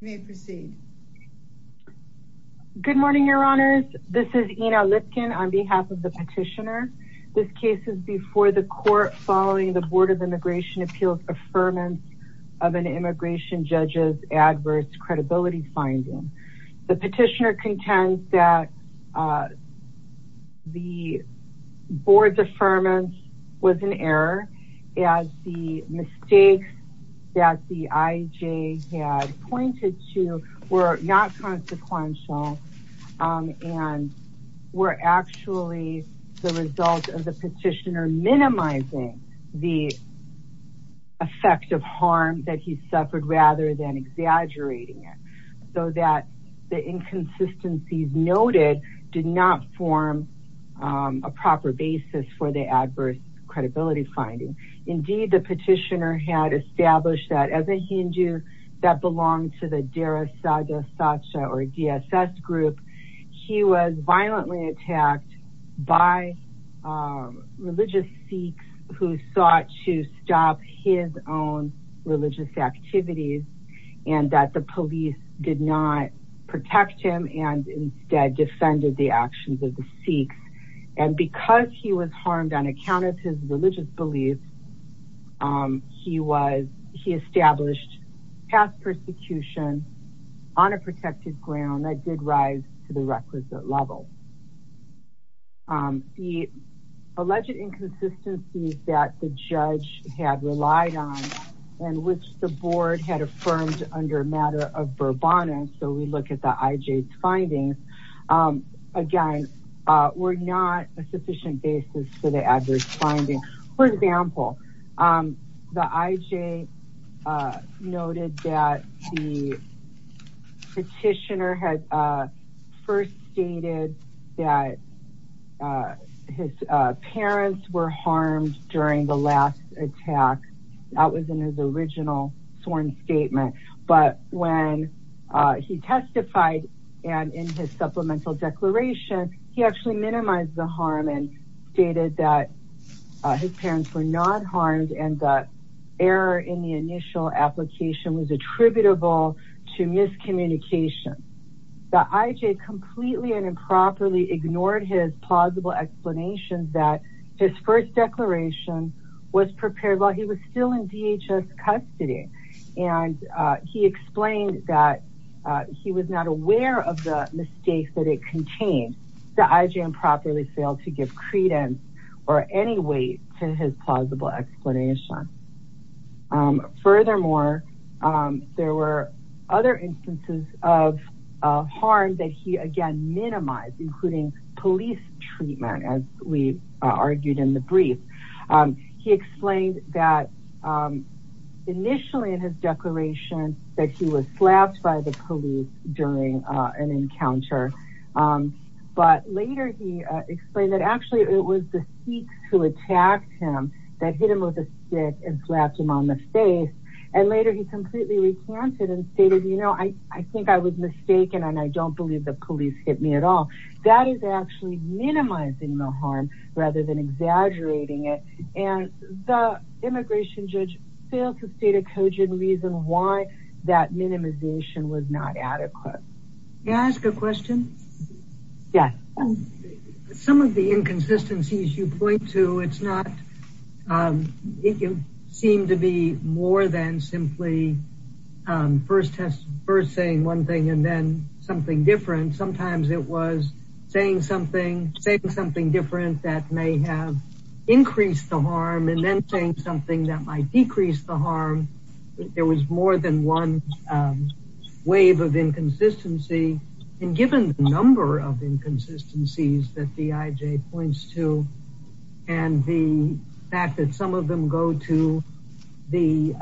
Good morning, Your Honors. This is Ina Lipkin on behalf of the petitioner. This case is before the court following the Board of Immigration Appeals' affirmance of an immigration judge's adverse credibility finding. The petitioner contends that the board's affirmance was an error as the mistakes that the IJ had pointed to were not consequential and were actually the result of the petitioner minimizing the effect of harm that he suffered rather than exaggerating it, so that the inconsistencies noted did not form a proper basis for the adverse credibility finding. Indeed, the petitioner had established that as a Hindu that belonged to the Dara Saga Saksha or DSS group, he was violently attacked by religious Sikhs who sought to stop his own religious activities and that the police did not protect him and instead defended the actions of the Sikhs and because he was harmed on account of his he established past persecution on a protected ground that did rise to the requisite level. The alleged inconsistencies that the judge had relied on and which the board had affirmed under a matter of verbatim, so we look at the IJ's findings, again were not a sufficient basis for the adverse finding. For example, the IJ noted that the petitioner had first stated that his parents were harmed during the last attack, that was in his original sworn statement, but when he testified and in his supplemental declaration he actually his parents were not harmed and that error in the initial application was attributable to miscommunication. The IJ completely and improperly ignored his plausible explanations that his first declaration was prepared while he was still in DHS custody and he explained that he was not aware of the mistakes that it contained. The IJ improperly failed to give credence or any weight to his plausible explanation. Furthermore, there were other instances of harm that he again minimized including police treatment as we argued in the brief. He explained that initially in his declaration that he was slapped by the counter, but later he explained that actually it was the Sikhs who attacked him that hit him with a stick and slapped him on the face and later he completely recanted and stated, you know, I think I was mistaken and I don't believe the police hit me at all. That is actually minimizing the harm rather than exaggerating it and the immigration judge failed to state a cogent reason why that minimization was not adequate. Can I ask a question? Yes. Some of the inconsistencies you point to it's not, it can seem to be more than simply first test first saying one thing and then something different. Sometimes it was saying something, saying something different that may have increased the harm. There was more than one wave of inconsistency and given the number of inconsistencies that the IJ points to and the fact that some of them go to the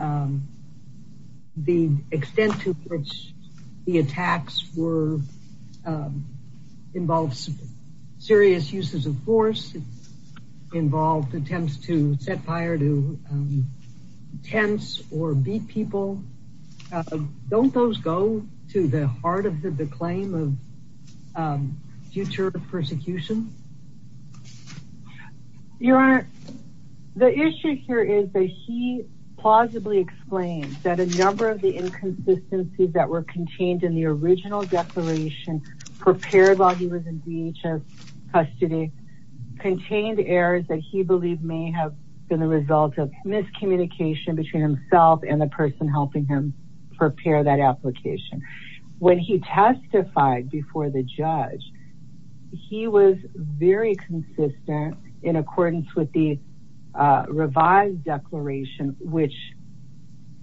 extent to which the attacks were, involves serious uses of force, involved attempts to set fire to tents or beat people. Don't those go to the heart of the claim of future persecution? Your Honor, the issue here is that he plausibly explained that a number of the inconsistencies that were contained in the original declaration prepared while he was in DHS custody contained errors that he believed may have been a result of miscommunication between himself and the person helping him prepare that application. When he testified before the judge, he was very consistent in accordance with the revised declaration which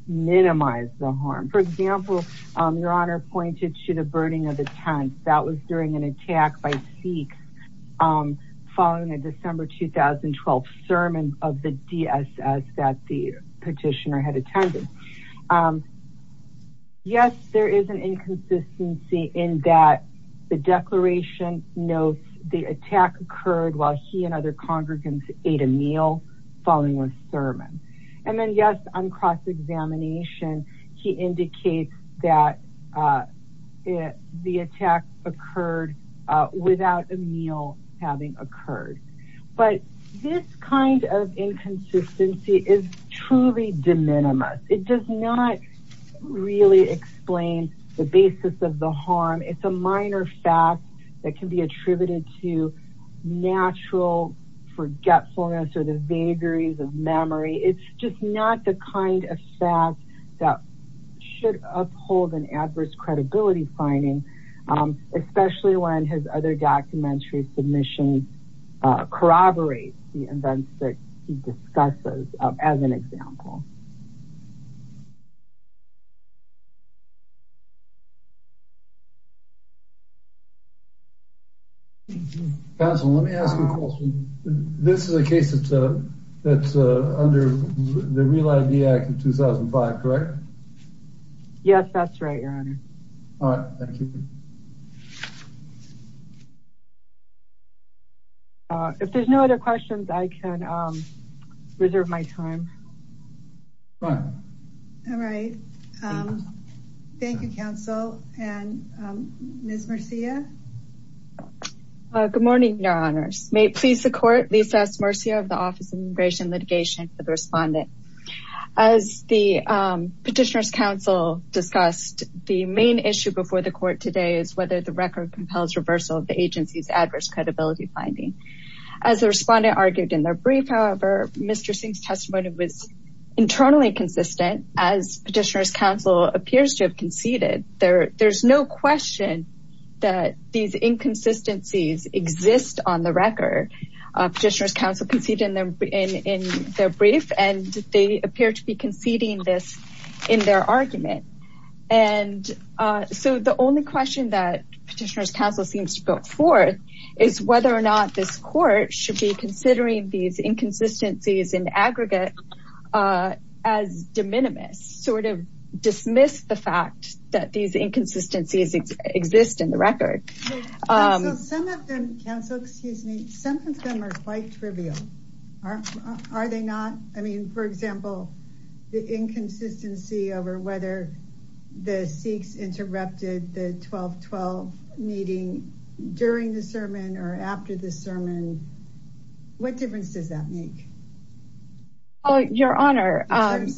minimized the harm. For example, Your Honor pointed to the burning of the 2012 sermon of the DSS that the petitioner had attended. Yes, there is an inconsistency in that the declaration notes the attack occurred while he and other congregants ate a meal following the sermon. And then yes, on cross examination, he indicates that the attack occurred without a meal having occurred. But this kind of inconsistency is truly de minimis. It does not really explain the basis of the harm. It's a minor fact that can be attributed to natural forgetfulness or the vagaries of memory. It's just not the kind of fact that should uphold an adverse credibility finding, especially when his documentary submission corroborates the events that he discusses as an example. Counsel, let me ask you a question. This is a case that's under the Real ID Act of 2005, correct? Yes, that's right, Your Honor. If there's no other questions, I can reserve my time. All right. Thank you, Counsel. And Ms. Murcia? Good morning, Your Honors. May it please the Court, Lisa S. Murcia of the Office of Immigration Litigation for the respondent. As the Petitioner's Counsel discussed, the main issue before the Court today is whether the record compels reversal of the agency's adverse credibility finding. As the respondent argued in their brief, however, Mr. Singh's testimony was internally consistent, as Petitioner's Counsel appears to have conceded. There's no question that these inconsistencies exist on the record. Petitioner's Counsel conceded in their brief, and they appear to be conceding this in their argument. And so the only question that Petitioner's Counsel seems to put forth is whether or not this Court should be considering these inconsistencies in aggregate as de minimis, sort of dismiss the fact that these inconsistencies exist in the record. Counsel, excuse me. Some of them are quite trivial. Are they not? I mean, for example, the inconsistency over whether the Sikhs interrupted the 12-12 meeting during the sermon or after the sermon. What difference does that make? Your Honor, as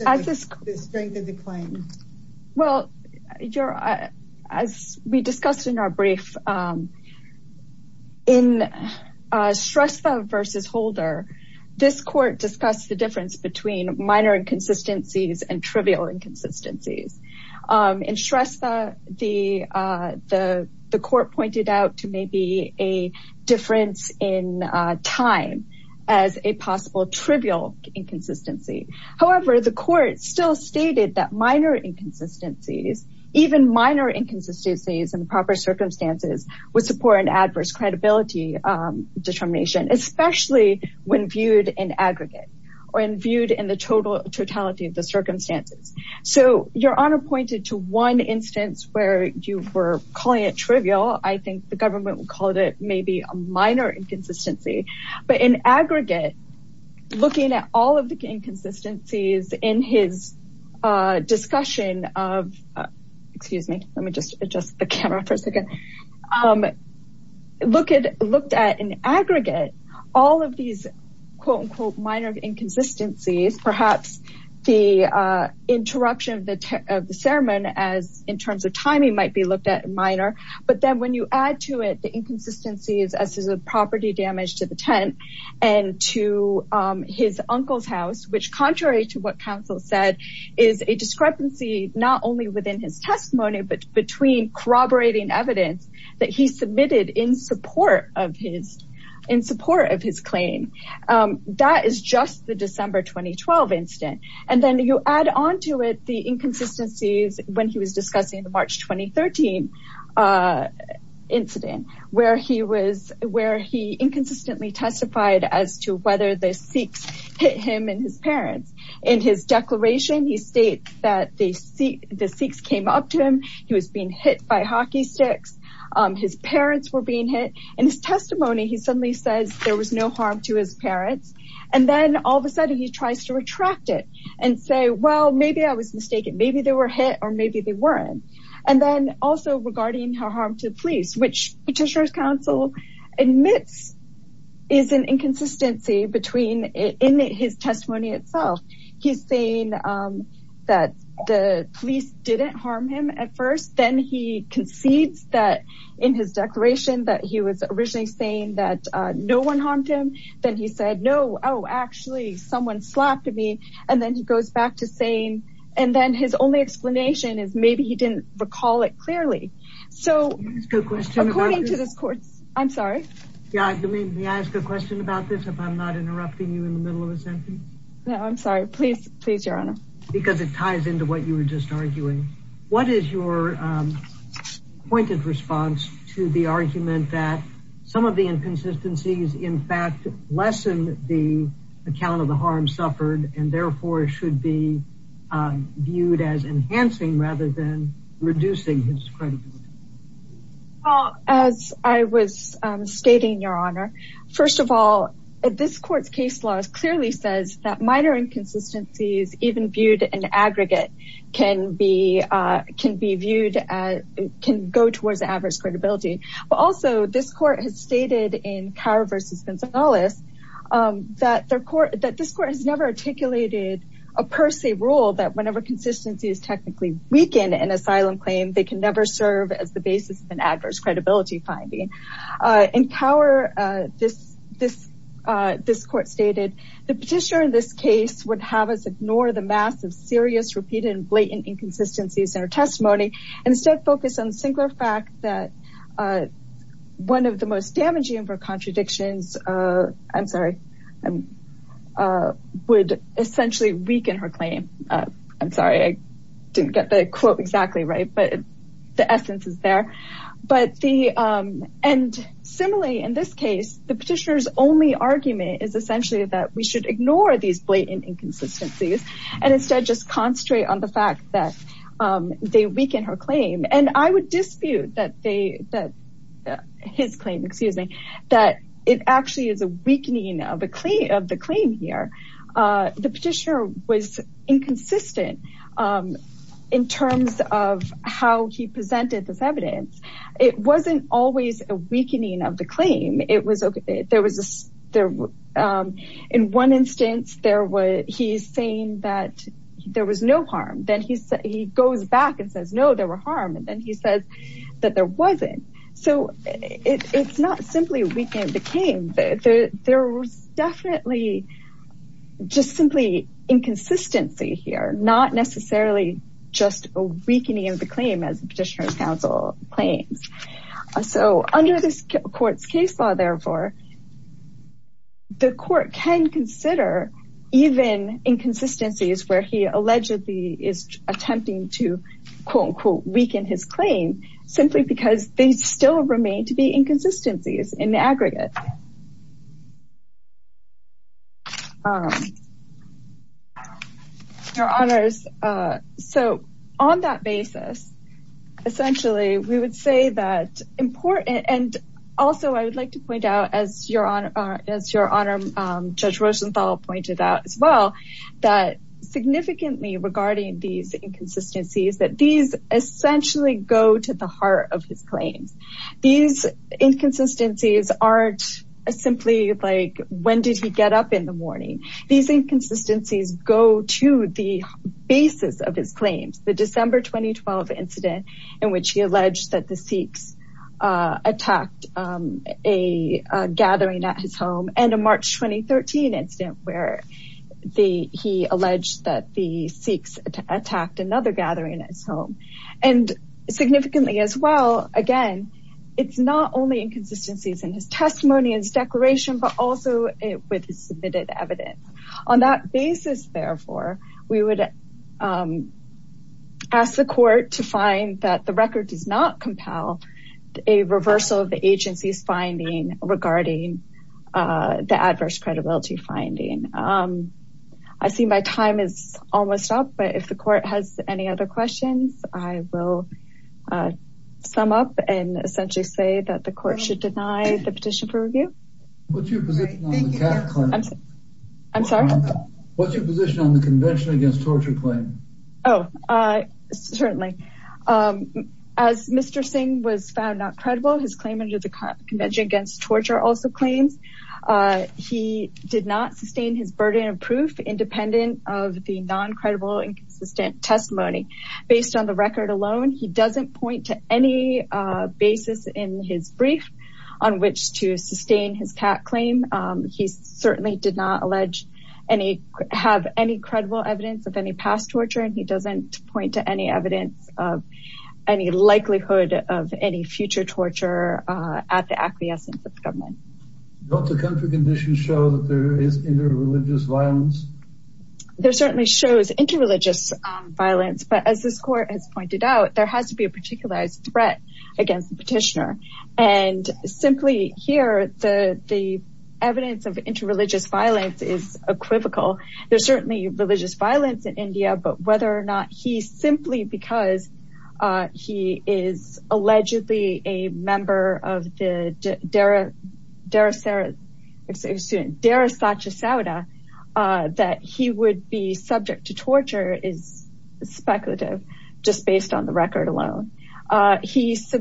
we discussed in our brief, in Shrestha v. Holder, this Court discussed the difference between minor inconsistencies and trivial inconsistencies. In Shrestha, the Court pointed out to maybe a difference in time as a possible trivial inconsistency. However, the Court still stated that minor inconsistencies, even minor inconsistencies in proper circumstances, would support an adverse credibility determination, especially when viewed in aggregate or viewed in the totality of the circumstances. So Your Honor pointed to one instance where you were calling it trivial. I think the government would call it maybe a minor inconsistency. But in aggregate, looking at all of the inconsistencies in his discussion of, excuse me, let me just adjust the camera for a second, looked at in aggregate all of these quote-unquote minor inconsistencies, perhaps the interruption of the sermon as in terms of timing might be looked at minor. But then when you add to it the inconsistencies as to the property damage to the tent and to his uncle's house, which contrary to what counsel said, is a discrepancy not only within his testimony, but between corroborating evidence that he submitted in support of his claim. That is just the December 2012 incident. And then you add on to it the inconsistencies when he was discussing the March 2013 incident, where he inconsistently testified as to whether the Sikhs hit him and his parents. In his declaration, he states that the Sikhs came up to him. He was being hit by hockey sticks. His parents were being hit. In his testimony, he suddenly says there was no harm to his parents. And then all of a sudden he tries to retract it and say, well, maybe I was mistaken. Maybe they were hit or maybe they weren't. And then also regarding her harm to the police, which petitioner's counsel admits is an inconsistency between in his testimony itself. He's saying that the police didn't harm him at first. Then he concedes that in his declaration that he was originally saying that no one harmed him. Then he said, no, oh, actually, someone slapped me. And then he goes back to saying. And then his only explanation is maybe he didn't recall it clearly. So according to this court. I'm sorry. Yeah, I mean, may I ask a question about this if I'm not interrupting you in the middle of a sentence? No, I'm sorry. Please, please, Your Honor. Because it ties into what you were just arguing. What is your pointed response to the argument that some of the inconsistencies, in fact, lessen the account of the harm suffered? And therefore should be viewed as enhancing rather than reducing his credit. As I was stating, Your Honor. First of all, this court's case law clearly says that minor inconsistencies, even viewed in aggregate, can be can be viewed as can go towards adverse credibility. But also this court has stated in Cower versus Gonzalez that their court, that this court has never articulated a per se rule that whenever consistency is technically weakened in asylum claim, they can never serve as the basis of an adverse credibility finding. In Cower, this this this court stated the petitioner in this case would have us ignore the massive, serious, repeated and blatant inconsistencies in her testimony and instead focus on the singular fact that one of the most damaging of her contradictions. I'm sorry. I would essentially weaken her claim. I'm sorry, I didn't get the quote exactly right, but the essence is there. But the and similarly, in this case, the petitioner's only argument is essentially that we should ignore these blatant inconsistencies and instead just concentrate on the fact that they weaken her claim. And I would dispute that they that his claim, excuse me, that it actually is a weakening of the claim of the claim here. The petitioner was inconsistent in terms of how he presented this evidence. It wasn't always a weakening of the claim. In one instance, he's saying that there was no harm. Then he goes back and says, no, there were harm. And then he says that there wasn't. So it's not simply a weakening of the claim. There was definitely just simply inconsistency here, not necessarily just a weakening of the claim as petitioner's counsel claims. So under this court's case law, therefore. The court can consider even inconsistencies where he allegedly is attempting to quote unquote weaken his claim simply because they still remain to be inconsistencies in the aggregate. Your honors. So on that basis, essentially, we would say that important. And also, I would like to point out, as your honor, as your honor, Judge Rosenthal pointed out as well, that significantly regarding these inconsistencies, that these essentially go to the heart of his claims. These inconsistencies aren't simply like, when did he get up in the morning? These inconsistencies go to the basis of his claims. The December 2012 incident in which he alleged that the Sikhs attacked a gathering at his home. And a March 2013 incident where he alleged that the Sikhs attacked another gathering at his home. And significantly as well. Again, it's not only inconsistencies in his testimony, his declaration, but also with submitted evidence. On that basis, therefore, we would ask the court to find that the record does not compel a reversal of the agency's finding regarding the adverse credibility finding. I see my time is almost up. But if the court has any other questions, I will sum up and essentially say that the court should deny the petition for review. What's your position on the convention against torture claim? Oh, certainly. As Mr. Singh was found not credible, his claim under the convention against torture also claims. He did not sustain his burden of proof independent of the non-credible, inconsistent testimony. Based on the record alone, he doesn't point to any basis in his brief on which to sustain his claim. He certainly did not have any credible evidence of any past torture. He doesn't point to any evidence of any likelihood of any future torture at the acquiescence of the government. Don't the country conditions show that there is inter-religious violence? There certainly shows inter-religious violence. But as this court has pointed out, there has to be a particular threat against the petitioner. And simply here, the evidence of inter-religious violence is equivocal. There's certainly religious violence in India. But whether or not he's simply because he is allegedly a member of the Dehra Sathya Sauda that he would be subject to torture is speculative, just based on the record alone. As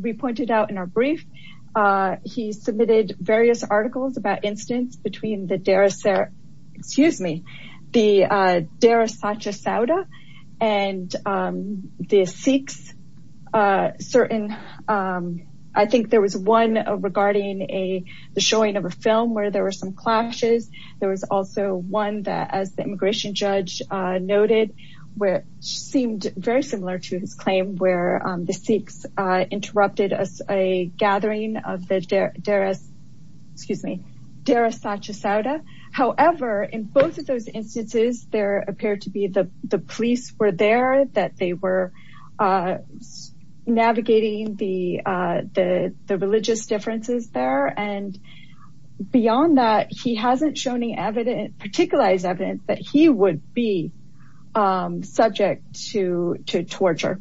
we pointed out in our brief, he submitted various articles about incidents between the Dehra Sathya Sauda and the Sikhs. I think there was one regarding the showing of a film where there were some clashes. There was also one that, as the immigration judge noted, seemed very similar to his claim where the Sikhs interrupted a gathering of the Dehra Sathya Sauda. However, in both of those instances, there appeared to be the police were there, that they were navigating the religious differences there. Beyond that, he hasn't shown any particular evidence that he would be subject to torture.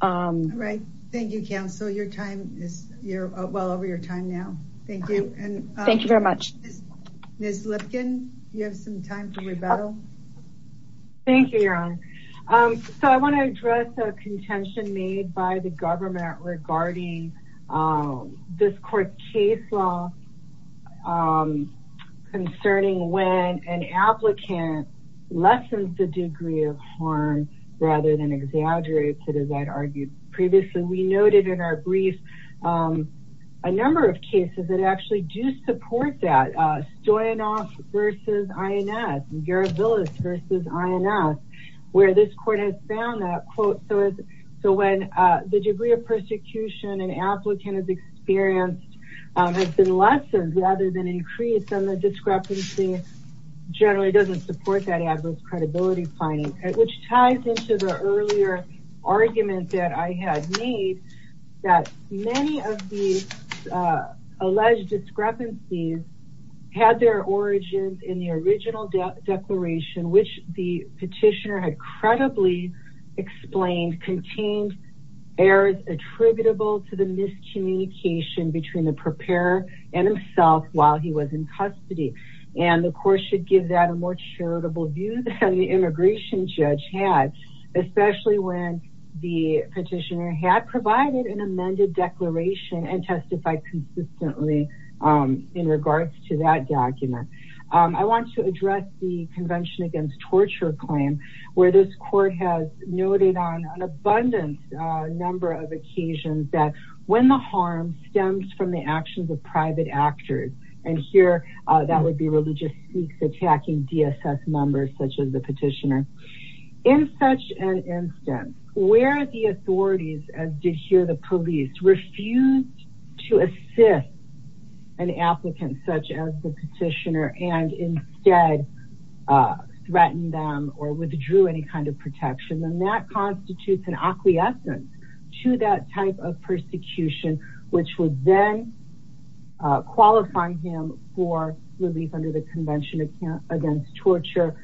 Thank you, counsel. You're well over your time now. Thank you very much. Ms. Lipkin, you have some time to rebuttal. Thank you, Your Honor. I want to address a contention made by the government regarding this court case law concerning when an applicant lessens the degree of harm rather than exaggerates it, as I'd argued previously. We noted in our brief a number of cases that actually do support that. Stoyanov v. INS, Garabilas v. INS, where this court has found that, quote, has been lessened rather than increased, and the discrepancy generally doesn't support that adverse credibility finding, which ties into the earlier argument that I had made that many of these alleged discrepancies had their origins in the original declaration, which the petitioner had credibly explained contained errors attributable to the miscommunication between the preparer and himself while he was in custody. And the court should give that a more charitable view than the immigration judge had, especially when the petitioner had provided an amended declaration and testified consistently in regards to that document. I want to address the Convention Against Torture claim, where this court has noted on an abundant number of occasions that when the harm stems from the actions of private actors, and here that would be religious sneaks attacking DSS members such as the petitioner. In such an instance, where the authorities, as did here the police, refused to assist an applicant such as the petitioner and instead threatened them or withdrew any kind of protection, then that constitutes an acquiescence to that type of persecution, which would then qualify him for relief under the Convention Against Torture,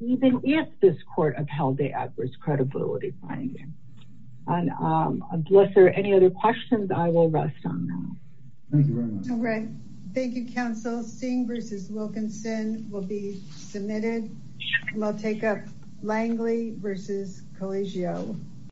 even if this court upheld the adverse credibility finding. And unless there are any other questions, I will rest on that. Thank you very much. All right. Thank you, Counsel. Singh v. Wilkinson will be submitted. We'll take up Langley v. Collegio.